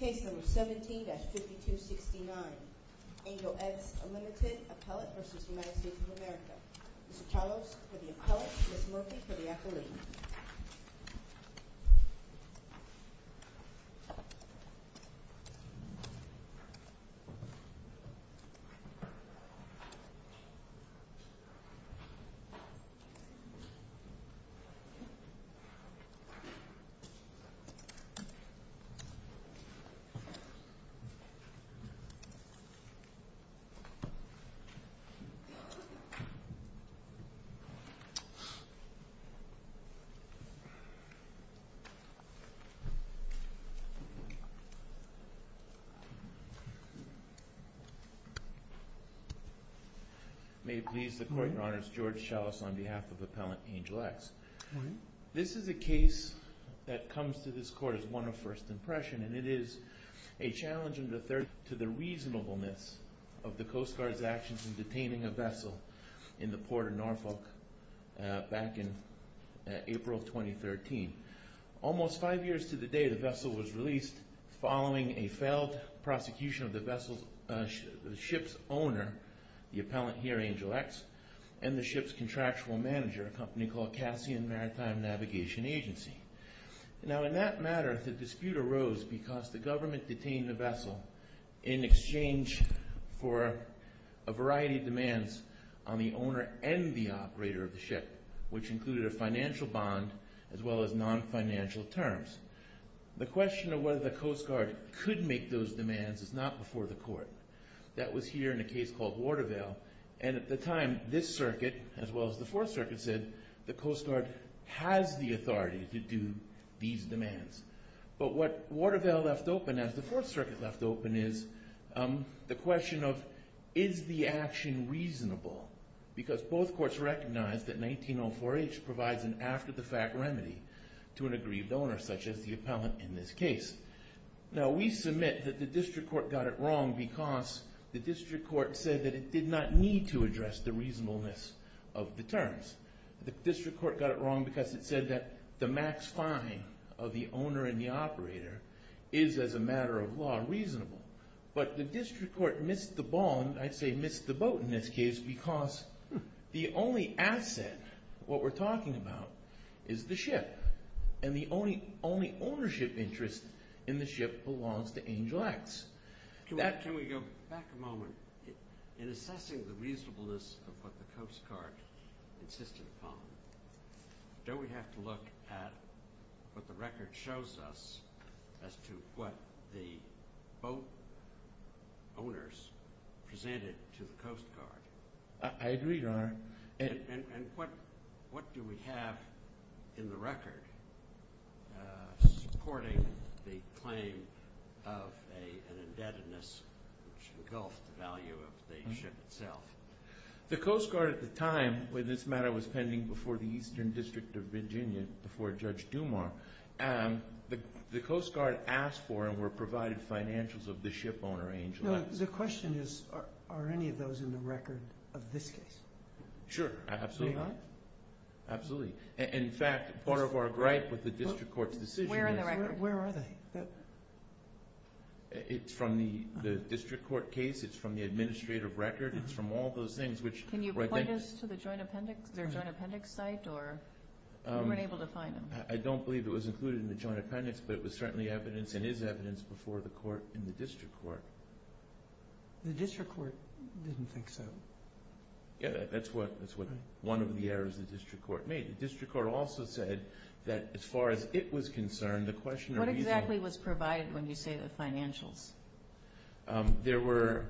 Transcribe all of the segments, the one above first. Case No. 17-5269, Angelette's Unlimited Appellate v. United States of America. Mr. Chalos for the appellate, Ms. Murphy for the accolade. May it please the Court, Your Honors, George Chalos on behalf of Appellant Angelex. This is a case that comes to this Court as one of first impression and it is a challenge to the reasonableness of the Coast Guard's actions in detaining a vessel in the port of Norfolk back in April 2013. Almost five years to the day the vessel was released following a failed prosecution of the vessel's owner, the appellant here, Angelex, and the ship's contractual manager, a company called Cassian Maritime Navigation Agency. Now in that matter the dispute arose because the government detained the vessel in exchange for a variety of demands on the owner and the operator of the ship, which included a financial bond as well as non-financial terms. The question of whether the Coast Guard could make those demands is not before the Court. That was here in a case called Watervale and at the time this circuit, as well as the Fourth Circuit, said the Coast Guard has the authority to do these demands. But what Watervale left open, as the Fourth Circuit left open, is the question of is the action reasonable because both courts recognized that 1904H provides an after-the-fact remedy to an aggrieved owner such as the appellant in this case. Now we submit that the District Court got it wrong because the District Court said that it did not need to address the reasonableness of the terms. The District Court got it wrong because it said that the max fine of the owner and the operator is, as a matter of law, reasonable. But the District Court missed the bond, I'd say missed the boat in this case, because the only asset, what we're talking about, is the ship and the only ownership interest in the ship belongs to Angel X. Can we go back a moment? In assessing the reasonableness of what the Coast Guard insisted upon, don't we have to look at what the record shows us as to what the boat owners presented to the Coast Guard? I agree, Your Honor. And what do we have in the record supporting the claim of an indebtedness which engulfed the value of the ship itself? The Coast Guard at the time, when this matter was pending before the Eastern District of Virginia, before Judge Dumar, the Coast Guard asked for and were provided financials of the ship owner, Angel X. No, the question is, are any of those in the record of this case? Sure, absolutely. They are? Absolutely. In fact, part of our gripe with the District Court's decision is... Where in the record? Where are they? It's from the District Court case, it's from the administrative record, it's from all those things which... Can you point us to their joint appendix site? We weren't able to find them. I don't believe it was included in the joint appendix, but it was certainly evidence, and is evidence, before the court in the District Court. The District Court didn't think so. Yeah, that's one of the errors the District Court made. The District Court also said that as far as it was concerned, the question of... What exactly was provided when you say the financials? There were...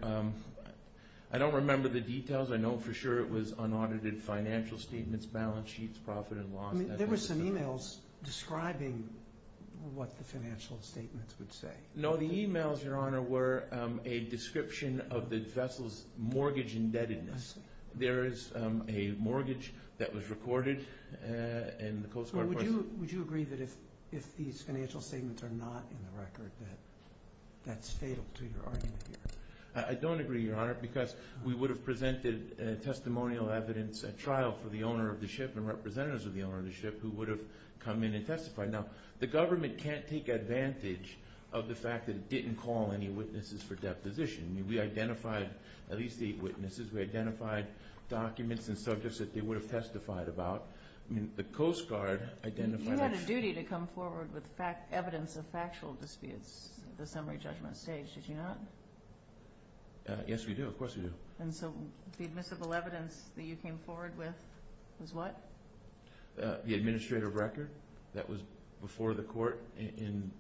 I don't remember the details, I know for sure it was unaudited financial statements, balance sheets, profit and loss... There were some emails describing what the financial statements would say. No, the emails, Your Honor, were a description of the vessel's mortgage indebtedness. There is a mortgage that was recorded in the Coast Guard... Would you agree that if these financial statements are not in the record, that that's fatal to your argument here? I don't agree, Your Honor, because we would have presented testimonial evidence at trial for the owner of the ship and representatives of the owner of the ship who would have come in and testified. Now, the government can't take advantage of the fact that it didn't call any witnesses for deposition. We identified at least eight witnesses, we identified documents and subjects that they would have testified about. I mean, the Coast Guard identified... You had a duty to come forward with evidence of factual disputes at the summary judgment stage, did you not? Yes, we do, of course we do. And so the admissible evidence that you came forward with was what? The administrative record that was before the court in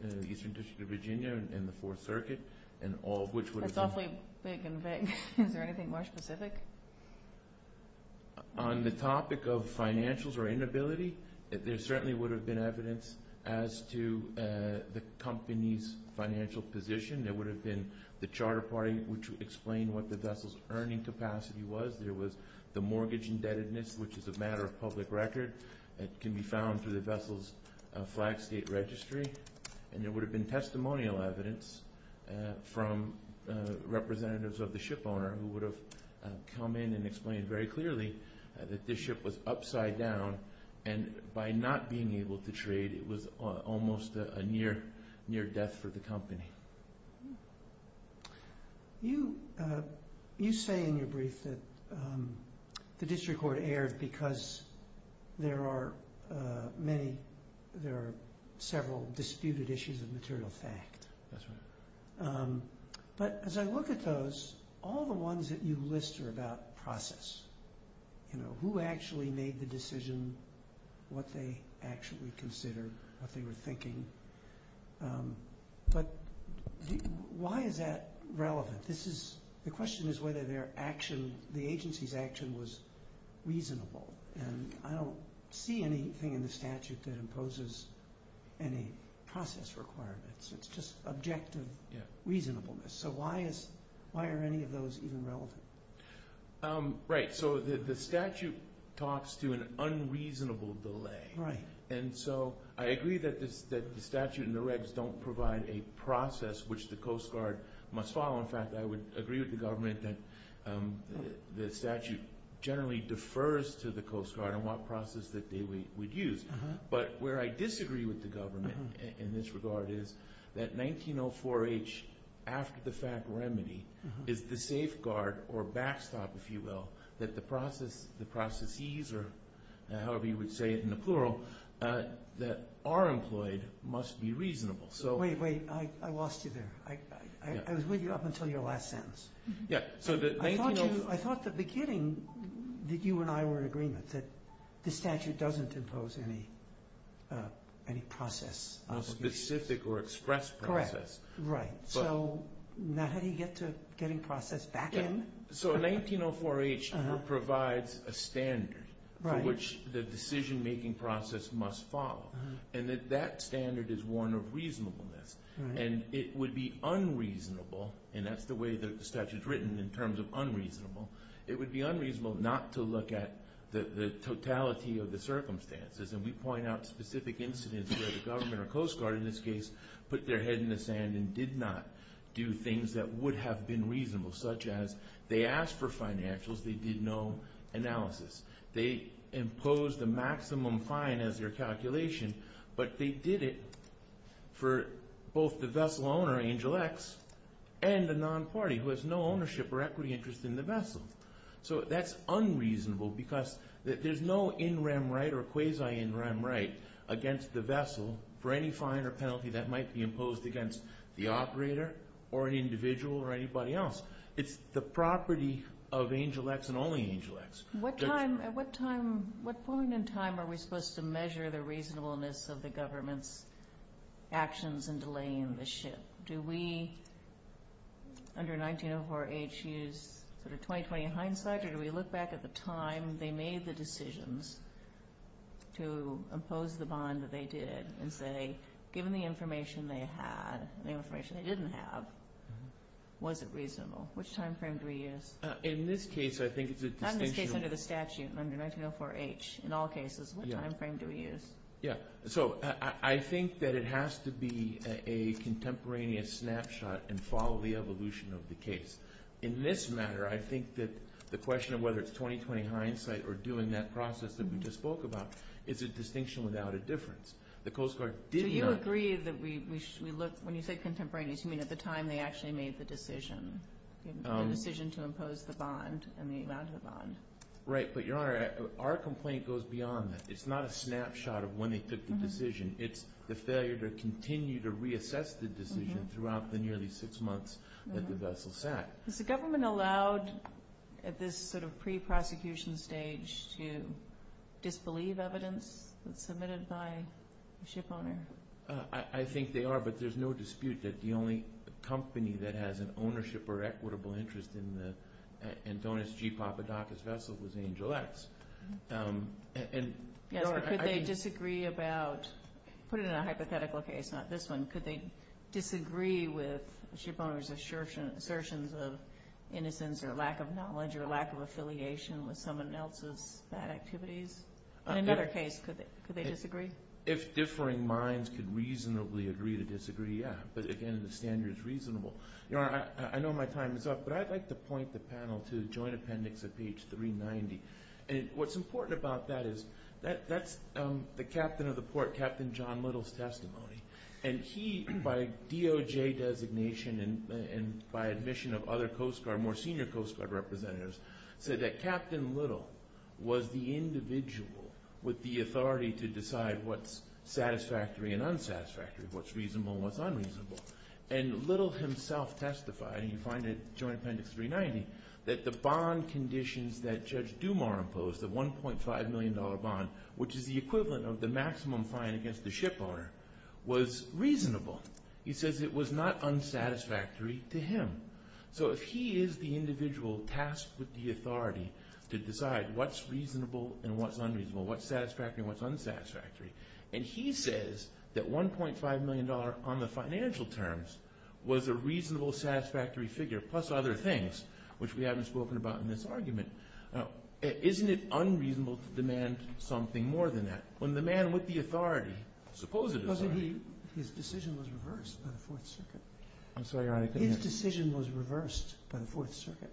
the Eastern District of Virginia and the Fourth Circuit and all which would have been... That's awfully vague and vague. Is there anything more specific? On the topic of financials or inability, there certainly would have been evidence as to the company's financial position. There would have been the charter party, which would explain what the vessel's earning capacity was. There was the mortgage indebtedness, which is a matter of public record. It can be found through the vessel's flag state registry. And there would have been testimonial evidence from representatives of the shipowner who would have come in and explained very clearly that the ship was upside down. And by not being able to trade, it was almost a near death for the company. You say in your brief that the district court erred because there are several disputed issues of material fact. That's right. But as I look at those, all the ones that you list are about process. Who actually made the decision, what they actually considered, what they were thinking. But why is that relevant? The question is whether the agency's action was reasonable. And I don't see anything in the statute that imposes any process requirements. It's just objective reasonableness. So why are any of those even relevant? Right. So the statute talks to an unreasonable delay. Right. And so I agree that the statute and the regs don't provide a process which the Coast Guard must follow. In fact, I would agree with the government that the statute generally defers to the Coast Guard on what process that they would use. But where I disagree with the government in this regard is that 1904H, after the fact remedy, is the safeguard or backstop, if you will, that the processes, or however you would say it in the plural, that are employed must be reasonable. Wait, wait. I lost you there. I was with you up until your last sentence. Yeah. I thought at the beginning that you and I were in agreement that the statute doesn't impose any process. No specific or expressed process. Correct. Right. So now how do you get to getting process back in? So 1904H provides a standard for which the decision-making process must follow. And that standard is one of reasonableness. And it would be unreasonable, and that's the way the statute is written in terms of unreasonable, it would be unreasonable not to look at the totality of the circumstances. And we point out specific incidents where the government or Coast Guard, in this case, put their head in the sand and did not do things that would have been reasonable, such as they asked for financials, they did no analysis. They imposed a maximum fine as their calculation, but they did it for both the vessel owner, Angel X, and the non-party who has no ownership or equity interest in the vessel. So that's unreasonable because there's no in-rem right or quasi-in-rem right against the vessel for any fine or penalty that might be imposed against the operator or an individual or anybody else. It's the property of Angel X and only Angel X. At what point in time are we supposed to measure the reasonableness of the government's actions in delaying the ship? Do we, under 1904H, use sort of 20-20 hindsight, or do we look back at the time they made the decisions to impose the bond that they did and say, given the information they had and the information they didn't have, was it reasonable? Which time frame do we use? In this case, I think it's a distinction. Not in this case, under the statute, under 1904H. In all cases, what time frame do we use? Yeah. So I think that it has to be a contemporaneous snapshot and follow the evolution of the case. In this matter, I think that the question of whether it's 20-20 hindsight or doing that process that we just spoke about is a distinction without a difference. The Coast Guard did not – So you agree that we – when you say contemporaneous, you mean at the time they actually made the decision, the decision to impose the bond and the amount of the bond. Right. But, Your Honor, our complaint goes beyond that. It's not a snapshot of when they took the decision. It's the failure to continue to reassess the decision throughout the nearly six months that the vessel sat. Is the government allowed at this sort of pre-prosecution stage to disbelieve evidence that's submitted by the ship owner? I think they are, but there's no dispute that the only company that has an ownership or equitable interest in the Antonis G. Papadakis vessel was Angel X. Yes, but could they disagree about – put it in a hypothetical case, not this one. Could they disagree with the ship owner's assertions of innocence or lack of knowledge or lack of affiliation with someone else's bad activities? In another case, could they disagree? If differing minds could reasonably agree to disagree, yeah. But, again, the standard is reasonable. Your Honor, I know my time is up, but I'd like to point the panel to joint appendix at page 390. And what's important about that is that's the captain of the port, Captain John Little's testimony. And he, by DOJ designation and by admission of other Coast Guard, more senior Coast Guard representatives, said that Captain Little was the individual with the authority to decide what's satisfactory and unsatisfactory, what's reasonable and what's unreasonable. And Little himself testified, and you find it in joint appendix 390, that the bond conditions that Judge Dumas imposed, the $1.5 million bond, which is the equivalent of the maximum fine against the ship owner, was reasonable. He says it was not unsatisfactory to him. So if he is the individual tasked with the authority to decide what's reasonable and what's unreasonable, what's satisfactory and what's unsatisfactory, and he says that $1.5 million on the financial terms was a reasonable, satisfactory figure, plus other things, which we haven't spoken about in this argument, isn't it unreasonable to demand something more than that? When the man with the authority, supposedly, His decision was reversed by the Fourth Circuit. I'm sorry, Your Honor. His decision was reversed by the Fourth Circuit.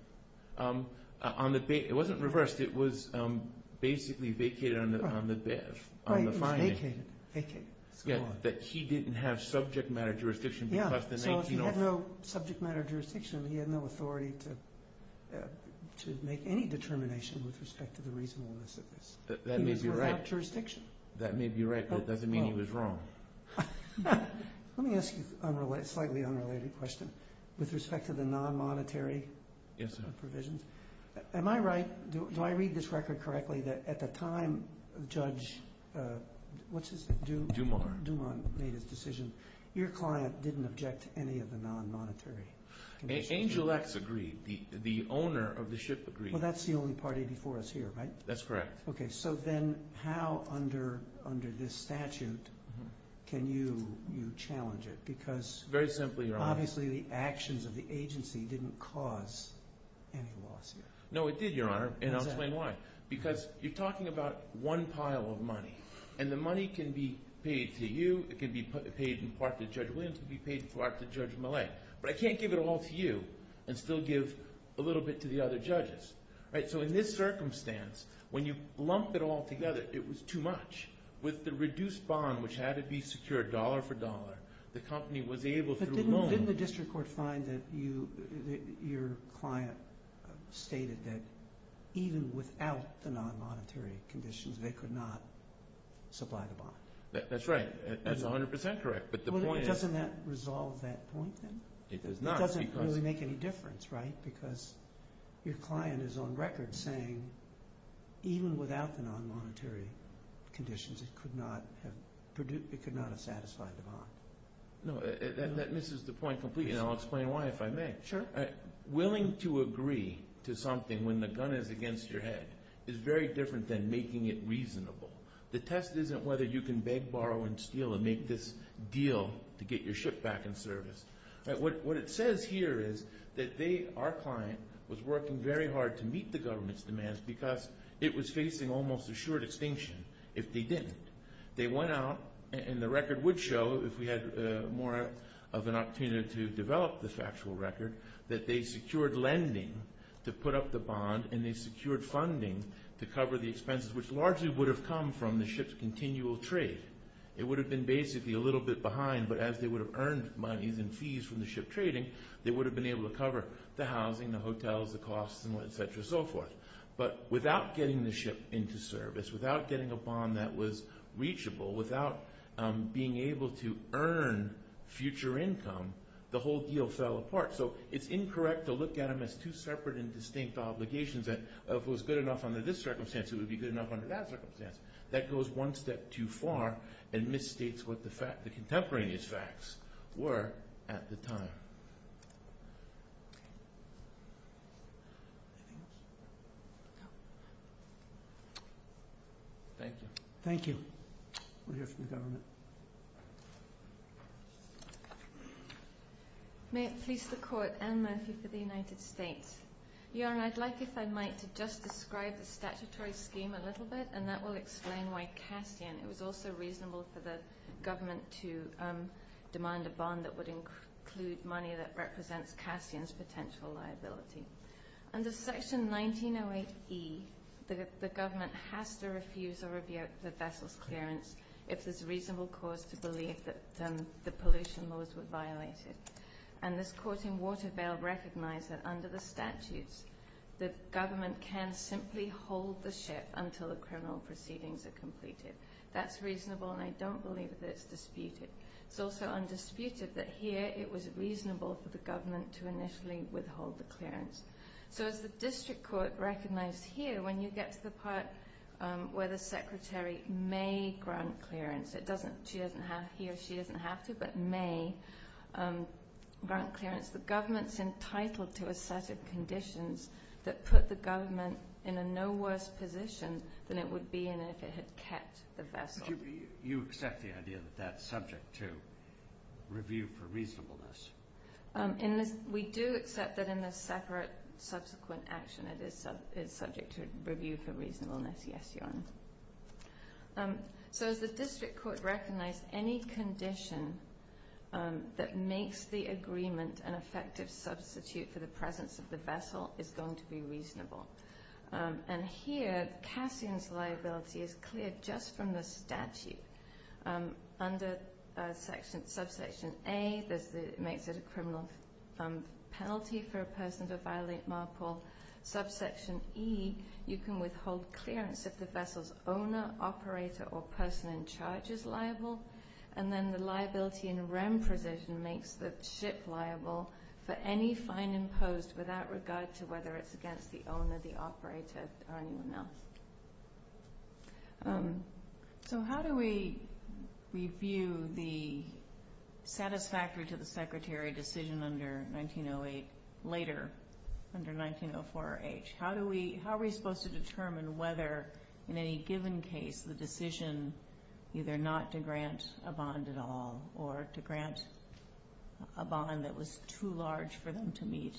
It wasn't reversed. It was basically vacated on the fine. Vacated. That he didn't have subject matter jurisdiction because of the 19-0. So if he had no subject matter jurisdiction, he had no authority to make any determination with respect to the reasonableness of this. That may be right. He was without jurisdiction. That may be right, but it doesn't mean he was wrong. Let me ask you a slightly unrelated question with respect to the non-monetary provisions. Yes, sir. Am I right? Do I read this record correctly that at the time Judge, what's his name? Dumont. Dumont made his decision. Your client didn't object to any of the non-monetary. Angel X agreed. The owner of the ship agreed. Well, that's the only party before us here, right? That's correct. Okay, so then how under this statute can you challenge it? Because obviously the actions of the agency didn't cause any lawsuit. No, it did, Your Honor, and I'll explain why. Because you're talking about one pile of money, and the money can be paid to you. It can be paid in part to Judge Williams. It can be paid in part to Judge Millet. But I can't give it all to you and still give a little bit to the other judges. So in this circumstance, when you lump it all together, it was too much. With the reduced bond, which had to be secured dollar for dollar, the company was able to loan. But didn't the district court find that your client stated that even without the non-monetary conditions, they could not supply the bond? That's right. That's 100% correct. But the point is— Well, doesn't that resolve that point then? It does not because— Your client is on record saying even without the non-monetary conditions, it could not have satisfied the bond. No, that misses the point completely, and I'll explain why if I may. Sure. Willing to agree to something when the gun is against your head is very different than making it reasonable. The test isn't whether you can beg, borrow, and steal and make this deal to get your ship back in service. What it says here is that our client was working very hard to meet the government's demands because it was facing almost assured extinction if they didn't. They went out, and the record would show, if we had more of an opportunity to develop the factual record, that they secured lending to put up the bond, and they secured funding to cover the expenses, which largely would have come from the ship's continual trade. It would have been basically a little bit behind, but as they would have earned monies and fees from the ship trading, they would have been able to cover the housing, the hotels, the costs, and et cetera and so forth. But without getting the ship into service, without getting a bond that was reachable, without being able to earn future income, the whole deal fell apart. So it's incorrect to look at them as two separate and distinct obligations. If it was good enough under this circumstance, it would be good enough under that circumstance. That goes one step too far and misstates what the contemporaneous facts were at the time. Thank you. Thank you. We'll hear from the government. May it please the Court, Anne Murphy for the United States. Your Honor, I'd like, if I might, to just describe the statutory scheme a little bit, and that will explain why Cassian. It was also reasonable for the government to demand a bond that would include money that represents Cassian's potential liability. Under Section 1908E, the government has to refuse or rebuke the vessel's clearance if there's reasonable cause to believe that the pollution laws were violated. And this court in Waterville recognized that under the statutes, the government can simply hold the ship until the criminal proceedings are completed. That's reasonable, and I don't believe that it's disputed. It's also undisputed that here it was reasonable for the government to initially withhold the clearance. So as the district court recognized here, when you get to the part where the secretary may grant clearance, it doesn't, he or she doesn't have to, but may grant clearance, the government's entitled to a set of conditions that put the government in a no worse position than it would be in if it had kept the vessel. Do you accept the idea that that's subject to review for reasonableness? We do accept that in the separate subsequent action it is subject to review for reasonableness, yes, Your Honor. So as the district court recognized, any condition that makes the agreement an effective substitute for the presence of the vessel is going to be reasonable. And here, Cassian's liability is clear just from the statute. Under Subsection A, it makes it a criminal penalty for a person to violate MARPOL. Subsection E, you can withhold clearance if the vessel's owner, operator, or person in charge is liable. And then the liability in REM precision makes the ship liable for any fine imposed without regard to whether it's against the owner, the operator, or anyone else. So how do we review the satisfactory-to-the-Secretary decision under 1908, later under 1904H? How are we supposed to determine whether in any given case the decision either not to grant a bond at all or to grant a bond that was too large for them to meet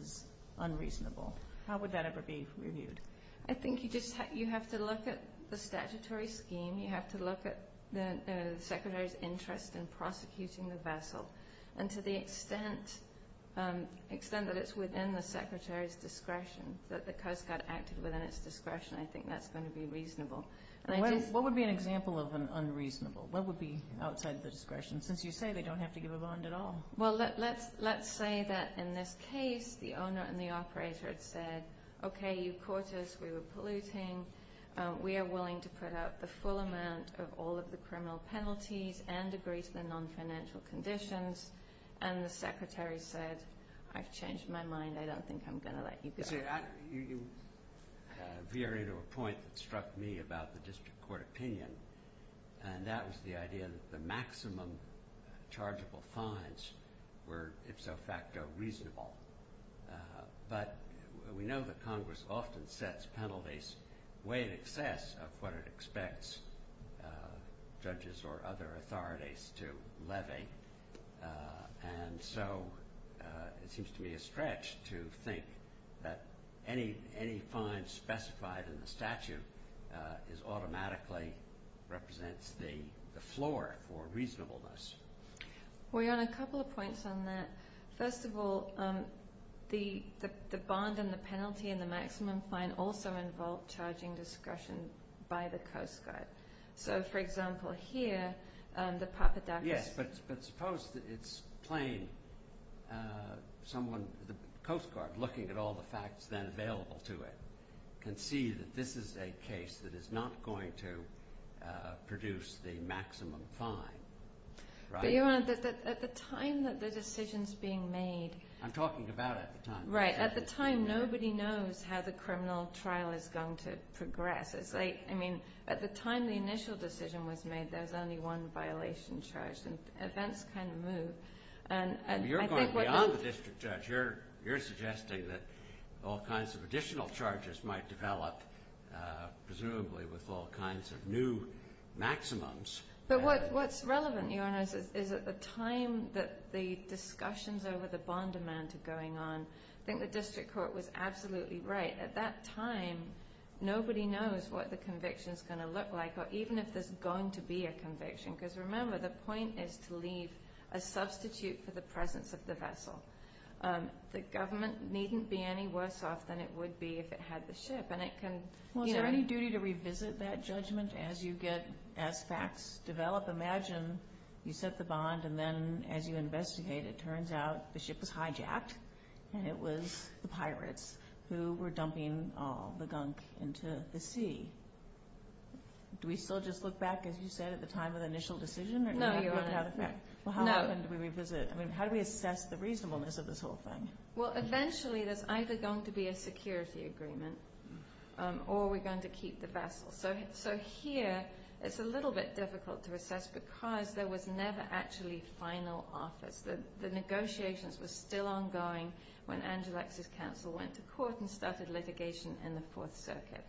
is unreasonable? How would that ever be reviewed? I think you have to look at the statutory scheme. You have to look at the Secretary's interest in prosecuting the vessel. And to the extent that it's within the Secretary's discretion, that the Coast Guard acted within its discretion, I think that's going to be reasonable. What would be an example of an unreasonable? What would be outside the discretion, since you say they don't have to give a bond at all? Well, let's say that in this case the owner and the operator had said, okay, you caught us. We were polluting. We are willing to put out the full amount of all of the criminal penalties and agree to the non-financial conditions. And the Secretary said, I've changed my mind. I don't think I'm going to let you go. You veer into a point that struck me about the district court opinion, and that was the idea that the maximum chargeable fines were ifso facto reasonable. But we know that Congress often sets penalties way in excess of what it expects judges or other authorities to levy. And so it seems to me a stretch to think that any fine specified in the statute automatically represents the floor for reasonableness. Well, Your Honor, a couple of points on that. First of all, the bond and the penalty and the maximum fine also involve charging discretion by the Coast Guard. So, for example, here, the Papadakis. Yes, but suppose it's plain, someone, the Coast Guard, looking at all the facts then available to it, can see that this is a case that is not going to produce the maximum fine, right? But, Your Honor, at the time that the decision's being made. I'm talking about at the time. Right. At the time, nobody knows how the criminal trial is going to progress. I mean, at the time the initial decision was made, there was only one violation charged, and events kind of moved. You're going beyond the district judge. You're suggesting that all kinds of additional charges might develop, presumably, with all kinds of new maximums. But what's relevant, Your Honor, is at the time that the discussions over the bond amount are going on, I think the district court was absolutely right. At that time, nobody knows what the conviction's going to look like, or even if there's going to be a conviction. Because, remember, the point is to leave a substitute for the presence of the vessel. The government needn't be any worse off than it would be if it had the ship, and it can, you know. Well, is there any duty to revisit that judgment as you get, as facts develop? Imagine you set the bond, and then as you investigate, it turns out the ship was hijacked, and it was the pirates who were dumping the gunk into the sea. Do we still just look back, as you said, at the time of the initial decision? No, Your Honor. Well, how often do we revisit? I mean, how do we assess the reasonableness of this whole thing? Well, eventually, there's either going to be a security agreement, or we're going to keep the vessel. So here, it's a little bit difficult to assess because there was never actually final office. The negotiations were still ongoing when Angelix's counsel went to court and started litigation in the Fourth Circuit.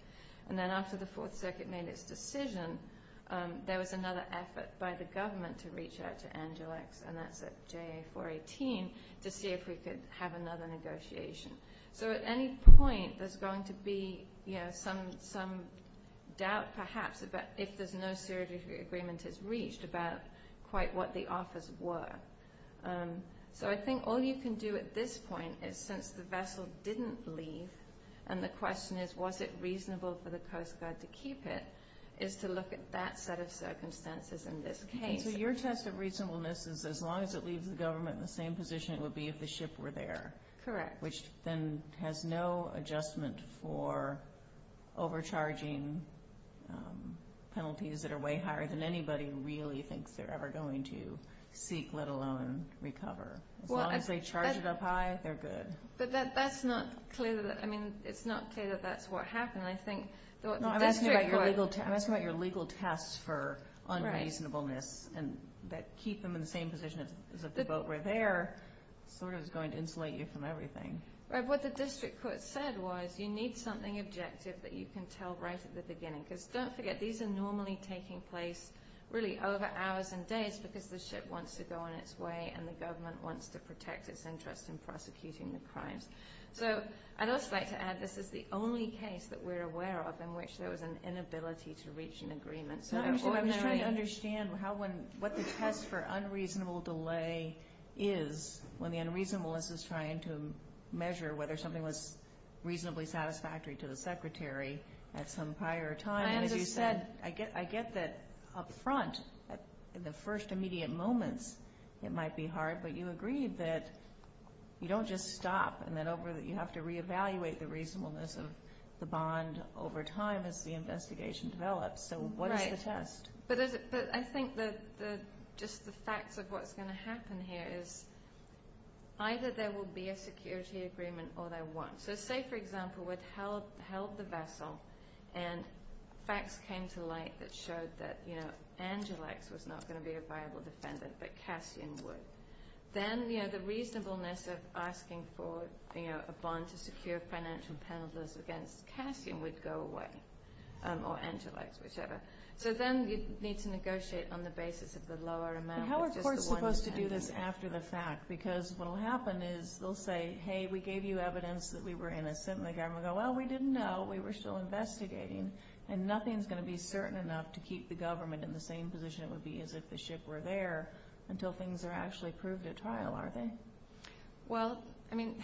And then after the Fourth Circuit made its decision, there was another effort by the government to reach out to Angelix, and that's at JA-418, to see if we could have another negotiation. So at any point, there's going to be some doubt, perhaps, if there's no security agreement is reached about quite what the offers were. So I think all you can do at this point is, since the vessel didn't leave, and the question is, was it reasonable for the Coast Guard to keep it, is to look at that set of circumstances in this case. So your test of reasonableness is, as long as it leaves the government in the same position, it would be if the ship were there. Correct. Which then has no adjustment for overcharging penalties that are way higher than anybody really thinks they're ever going to seek, let alone recover. As long as they charge it up high, they're good. But that's not clear. I mean, it's not clear that that's what happened. I'm asking about your legal test for unreasonableness, and that keeping them in the same position as if the boat were there sort of is going to insulate you from everything. What the district court said was, you need something objective that you can tell right at the beginning. Because don't forget, these are normally taking place really over hours and days, because the ship wants to go on its way, and the government wants to protect its interest in prosecuting the crimes. So I'd also like to add, this is the only case that we're aware of in which there was an inability to reach an agreement. I'm just trying to understand what the test for unreasonable delay is, when the unreasonableness is trying to measure whether something was reasonably satisfactory to the secretary at some prior time. And as you said, I get that up front, in the first immediate moments, it might be hard. But you agreed that you don't just stop, and that you have to reevaluate the reasonableness of the bond over time as the investigation develops. So what is the test? But I think just the facts of what's going to happen here is, either there will be a security agreement or there won't. So say, for example, we'd held the vessel, and facts came to light that showed that Angelix was not going to be a viable defendant, but Cassian would. Then the reasonableness of asking for a bond to secure financial penalties against Cassian would go away, or Angelix, whichever. So then you'd need to negotiate on the basis of the lower amount. But how are courts supposed to do this after the fact? Because what will happen is they'll say, hey, we gave you evidence that we were innocent, and the government will go, well, we didn't know, we were still investigating, and nothing's going to be certain enough to keep the government in the same position it would be as if the ship were there, until things are actually proved at trial, are they? Well, I mean,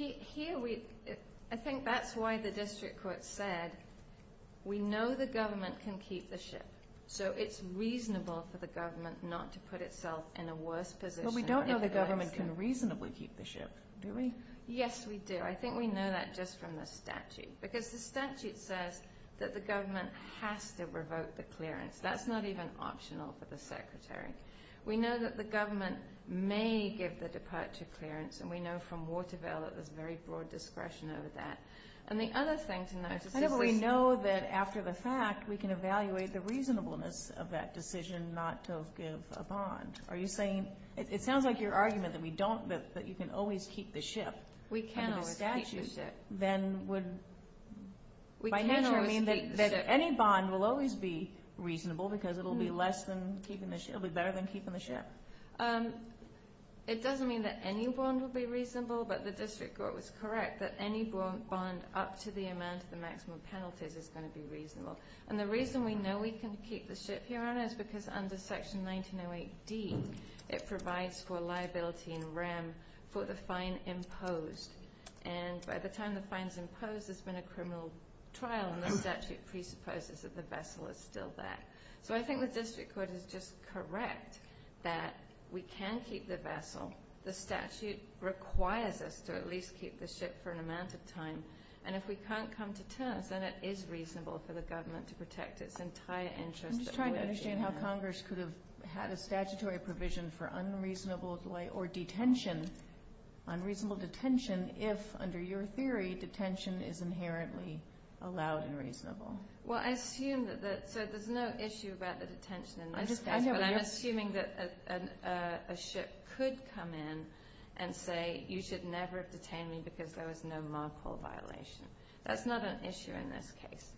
I think that's why the district court said we know the government can keep the ship, so it's reasonable for the government not to put itself in a worse position. But we don't know the government can reasonably keep the ship, do we? Yes, we do. I think we know that just from the statute, because the statute says that the government has to revoke the clearance. That's not even optional for the Secretary. We know that the government may give the departure clearance, and we know from Waterville that there's very broad discretion over that. And the other thing to notice is that we know that after the fact, we can evaluate the reasonableness of that decision not to give a bond. Are you saying, it sounds like your argument that we don't, that you can always keep the ship. We can always keep the ship. Then would by nature mean that any bond will always be reasonable, because it'll be less than keeping the ship, it'll be better than keeping the ship? It doesn't mean that any bond will be reasonable, but the district court was correct, that any bond up to the amount of the maximum penalties is going to be reasonable. And the reason we know we can keep the ship here on it is because under Section 1908D, it provides for liability and REM for the fine imposed. And by the time the fine's imposed, there's been a criminal trial, and the statute presupposes that the vessel is still there. So I think the district court is just correct that we can keep the vessel. The statute requires us to at least keep the ship for an amount of time. And if we can't come to terms, then it is reasonable for the government to protect its entire interest. I'm just trying to understand how Congress could have had a statutory provision for unreasonable delay or detention, unreasonable detention, if, under your theory, detention is inherently allowed and reasonable. Well, I assume that there's no issue about the detention in this case, but I'm assuming that a ship could come in and say, you should never have detained me because there was no MARPOL violation. That's not an issue in this case.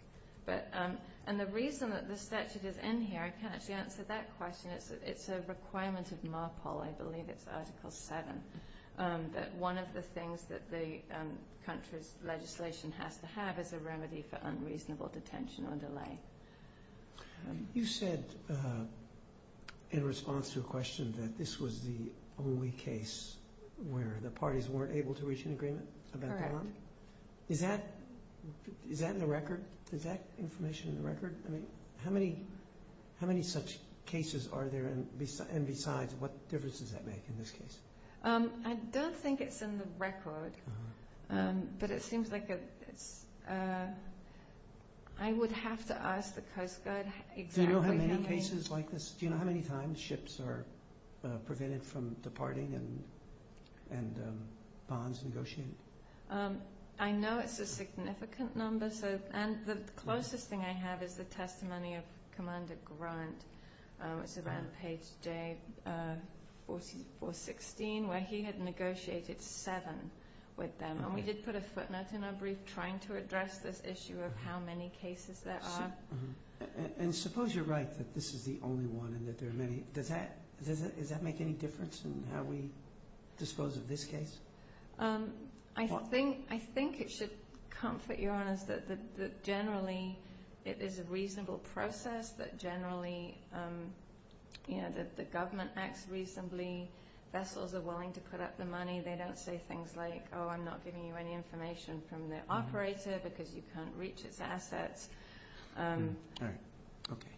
And the reason that the statute is in here, I can't actually answer that question, it's a requirement of MARPOL, I believe it's Article 7, that one of the things that the country's legislation has to have is a remedy for unreasonable detention or delay. You said, in response to a question, that this was the only case where the parties weren't able to reach an agreement? Correct. Is that in the record? Is that information in the record? How many such cases are there, and besides, what difference does that make in this case? I don't think it's in the record, but it seems like I would have to ask the Coast Guard. Do you know how many cases like this? Do you know how many times ships are prevented from departing and bonds negotiated? I know it's a significant number, and the closest thing I have is the testimony of Commander Grant. It's around page 416, where he had negotiated seven with them, and we did put a footnote in our brief trying to address this issue of how many cases there are. Suppose you're right that this is the only one, and that there are many. Does that make any difference in how we dispose of this case? I think it should comfort your honors that generally it is a reasonable process, that generally the government acts reasonably, vessels are willing to put up the money. They don't say things like, oh, I'm not giving you any information from the operator because you can't reach its assets. All right. Okay.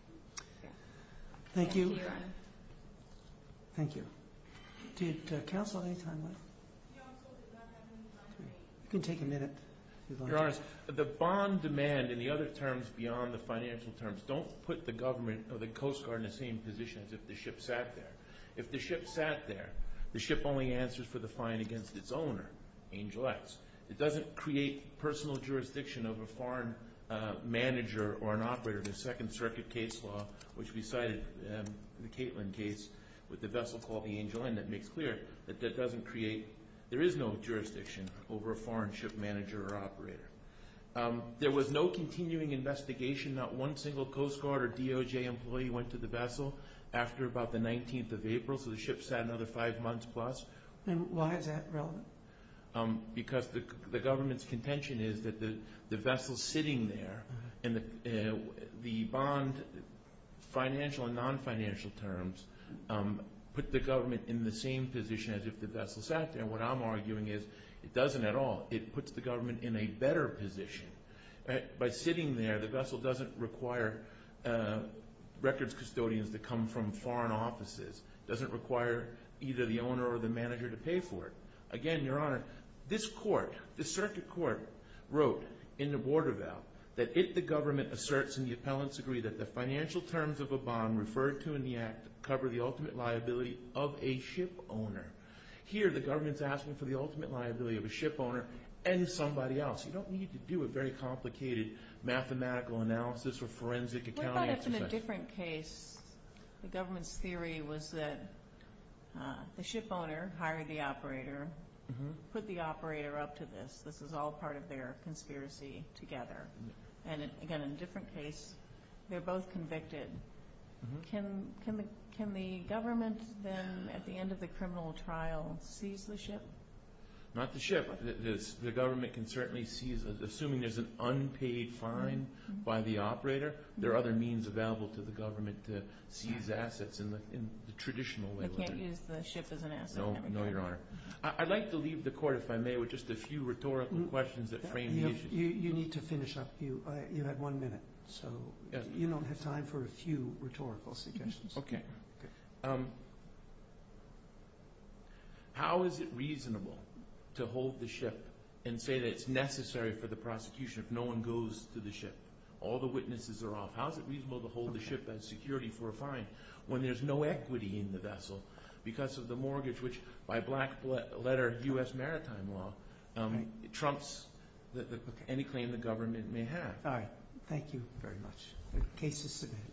Thank you. Thank you, Your Honor. Thank you. Did counsel have any time left? You can take a minute, Your Honor. Your Honors, the bond demand and the other terms beyond the financial terms don't put the government or the Coast Guard in the same position as if the ship sat there. If the ship sat there, the ship only answers for the fine against its owner, Angel X. It doesn't create personal jurisdiction over a foreign manager or an operator. The Second Circuit case law, which we cited, the Caitlin case with the vessel called the Angel N, that makes clear that that doesn't create, there is no jurisdiction over a foreign ship manager or operator. There was no continuing investigation. Not one single Coast Guard or DOJ employee went to the vessel after about the 19th of April, so the ship sat another five months plus. Why is that relevant? Because the government's contention is that the vessel sitting there, and the bond, financial and non-financial terms, put the government in the same position as if the vessel sat there. What I'm arguing is it doesn't at all. It puts the government in a better position. By sitting there, the vessel doesn't require records custodians that come from foreign offices. It doesn't require either the owner or the manager to pay for it. Again, Your Honor, this court, the Circuit Court, wrote in the border bail that if the government asserts in the appellant's degree that the financial terms of a bond referred to in the act cover the ultimate liability of a ship owner, here the government's asking for the ultimate liability of a ship owner and somebody else. You don't need to do a very complicated mathematical analysis or forensic accounting. What about if in a different case the government's theory was that the ship owner hired the operator, put the operator up to this. This is all part of their conspiracy together. And again, in a different case, they're both convicted. Can the government then, at the end of the criminal trial, seize the ship? Not the ship. The government can certainly seize it. Assuming there's an unpaid fine by the operator, there are other means available to the government to seize assets in the traditional way. They can't use the ship as an asset. No, Your Honor. I'd like to leave the court, if I may, with just a few rhetorical questions that frame the issue. You need to finish up. You have one minute. You don't have time for a few rhetorical suggestions. Okay. How is it reasonable to hold the ship and say that it's necessary for the prosecution if no one goes to the ship? All the witnesses are off. How is it reasonable to hold the ship as security for a fine when there's no equity in the vessel because of the mortgage, which by black-letter U.S. maritime law trumps any claim the government may have? All right. Thank you very much. The case is submitted.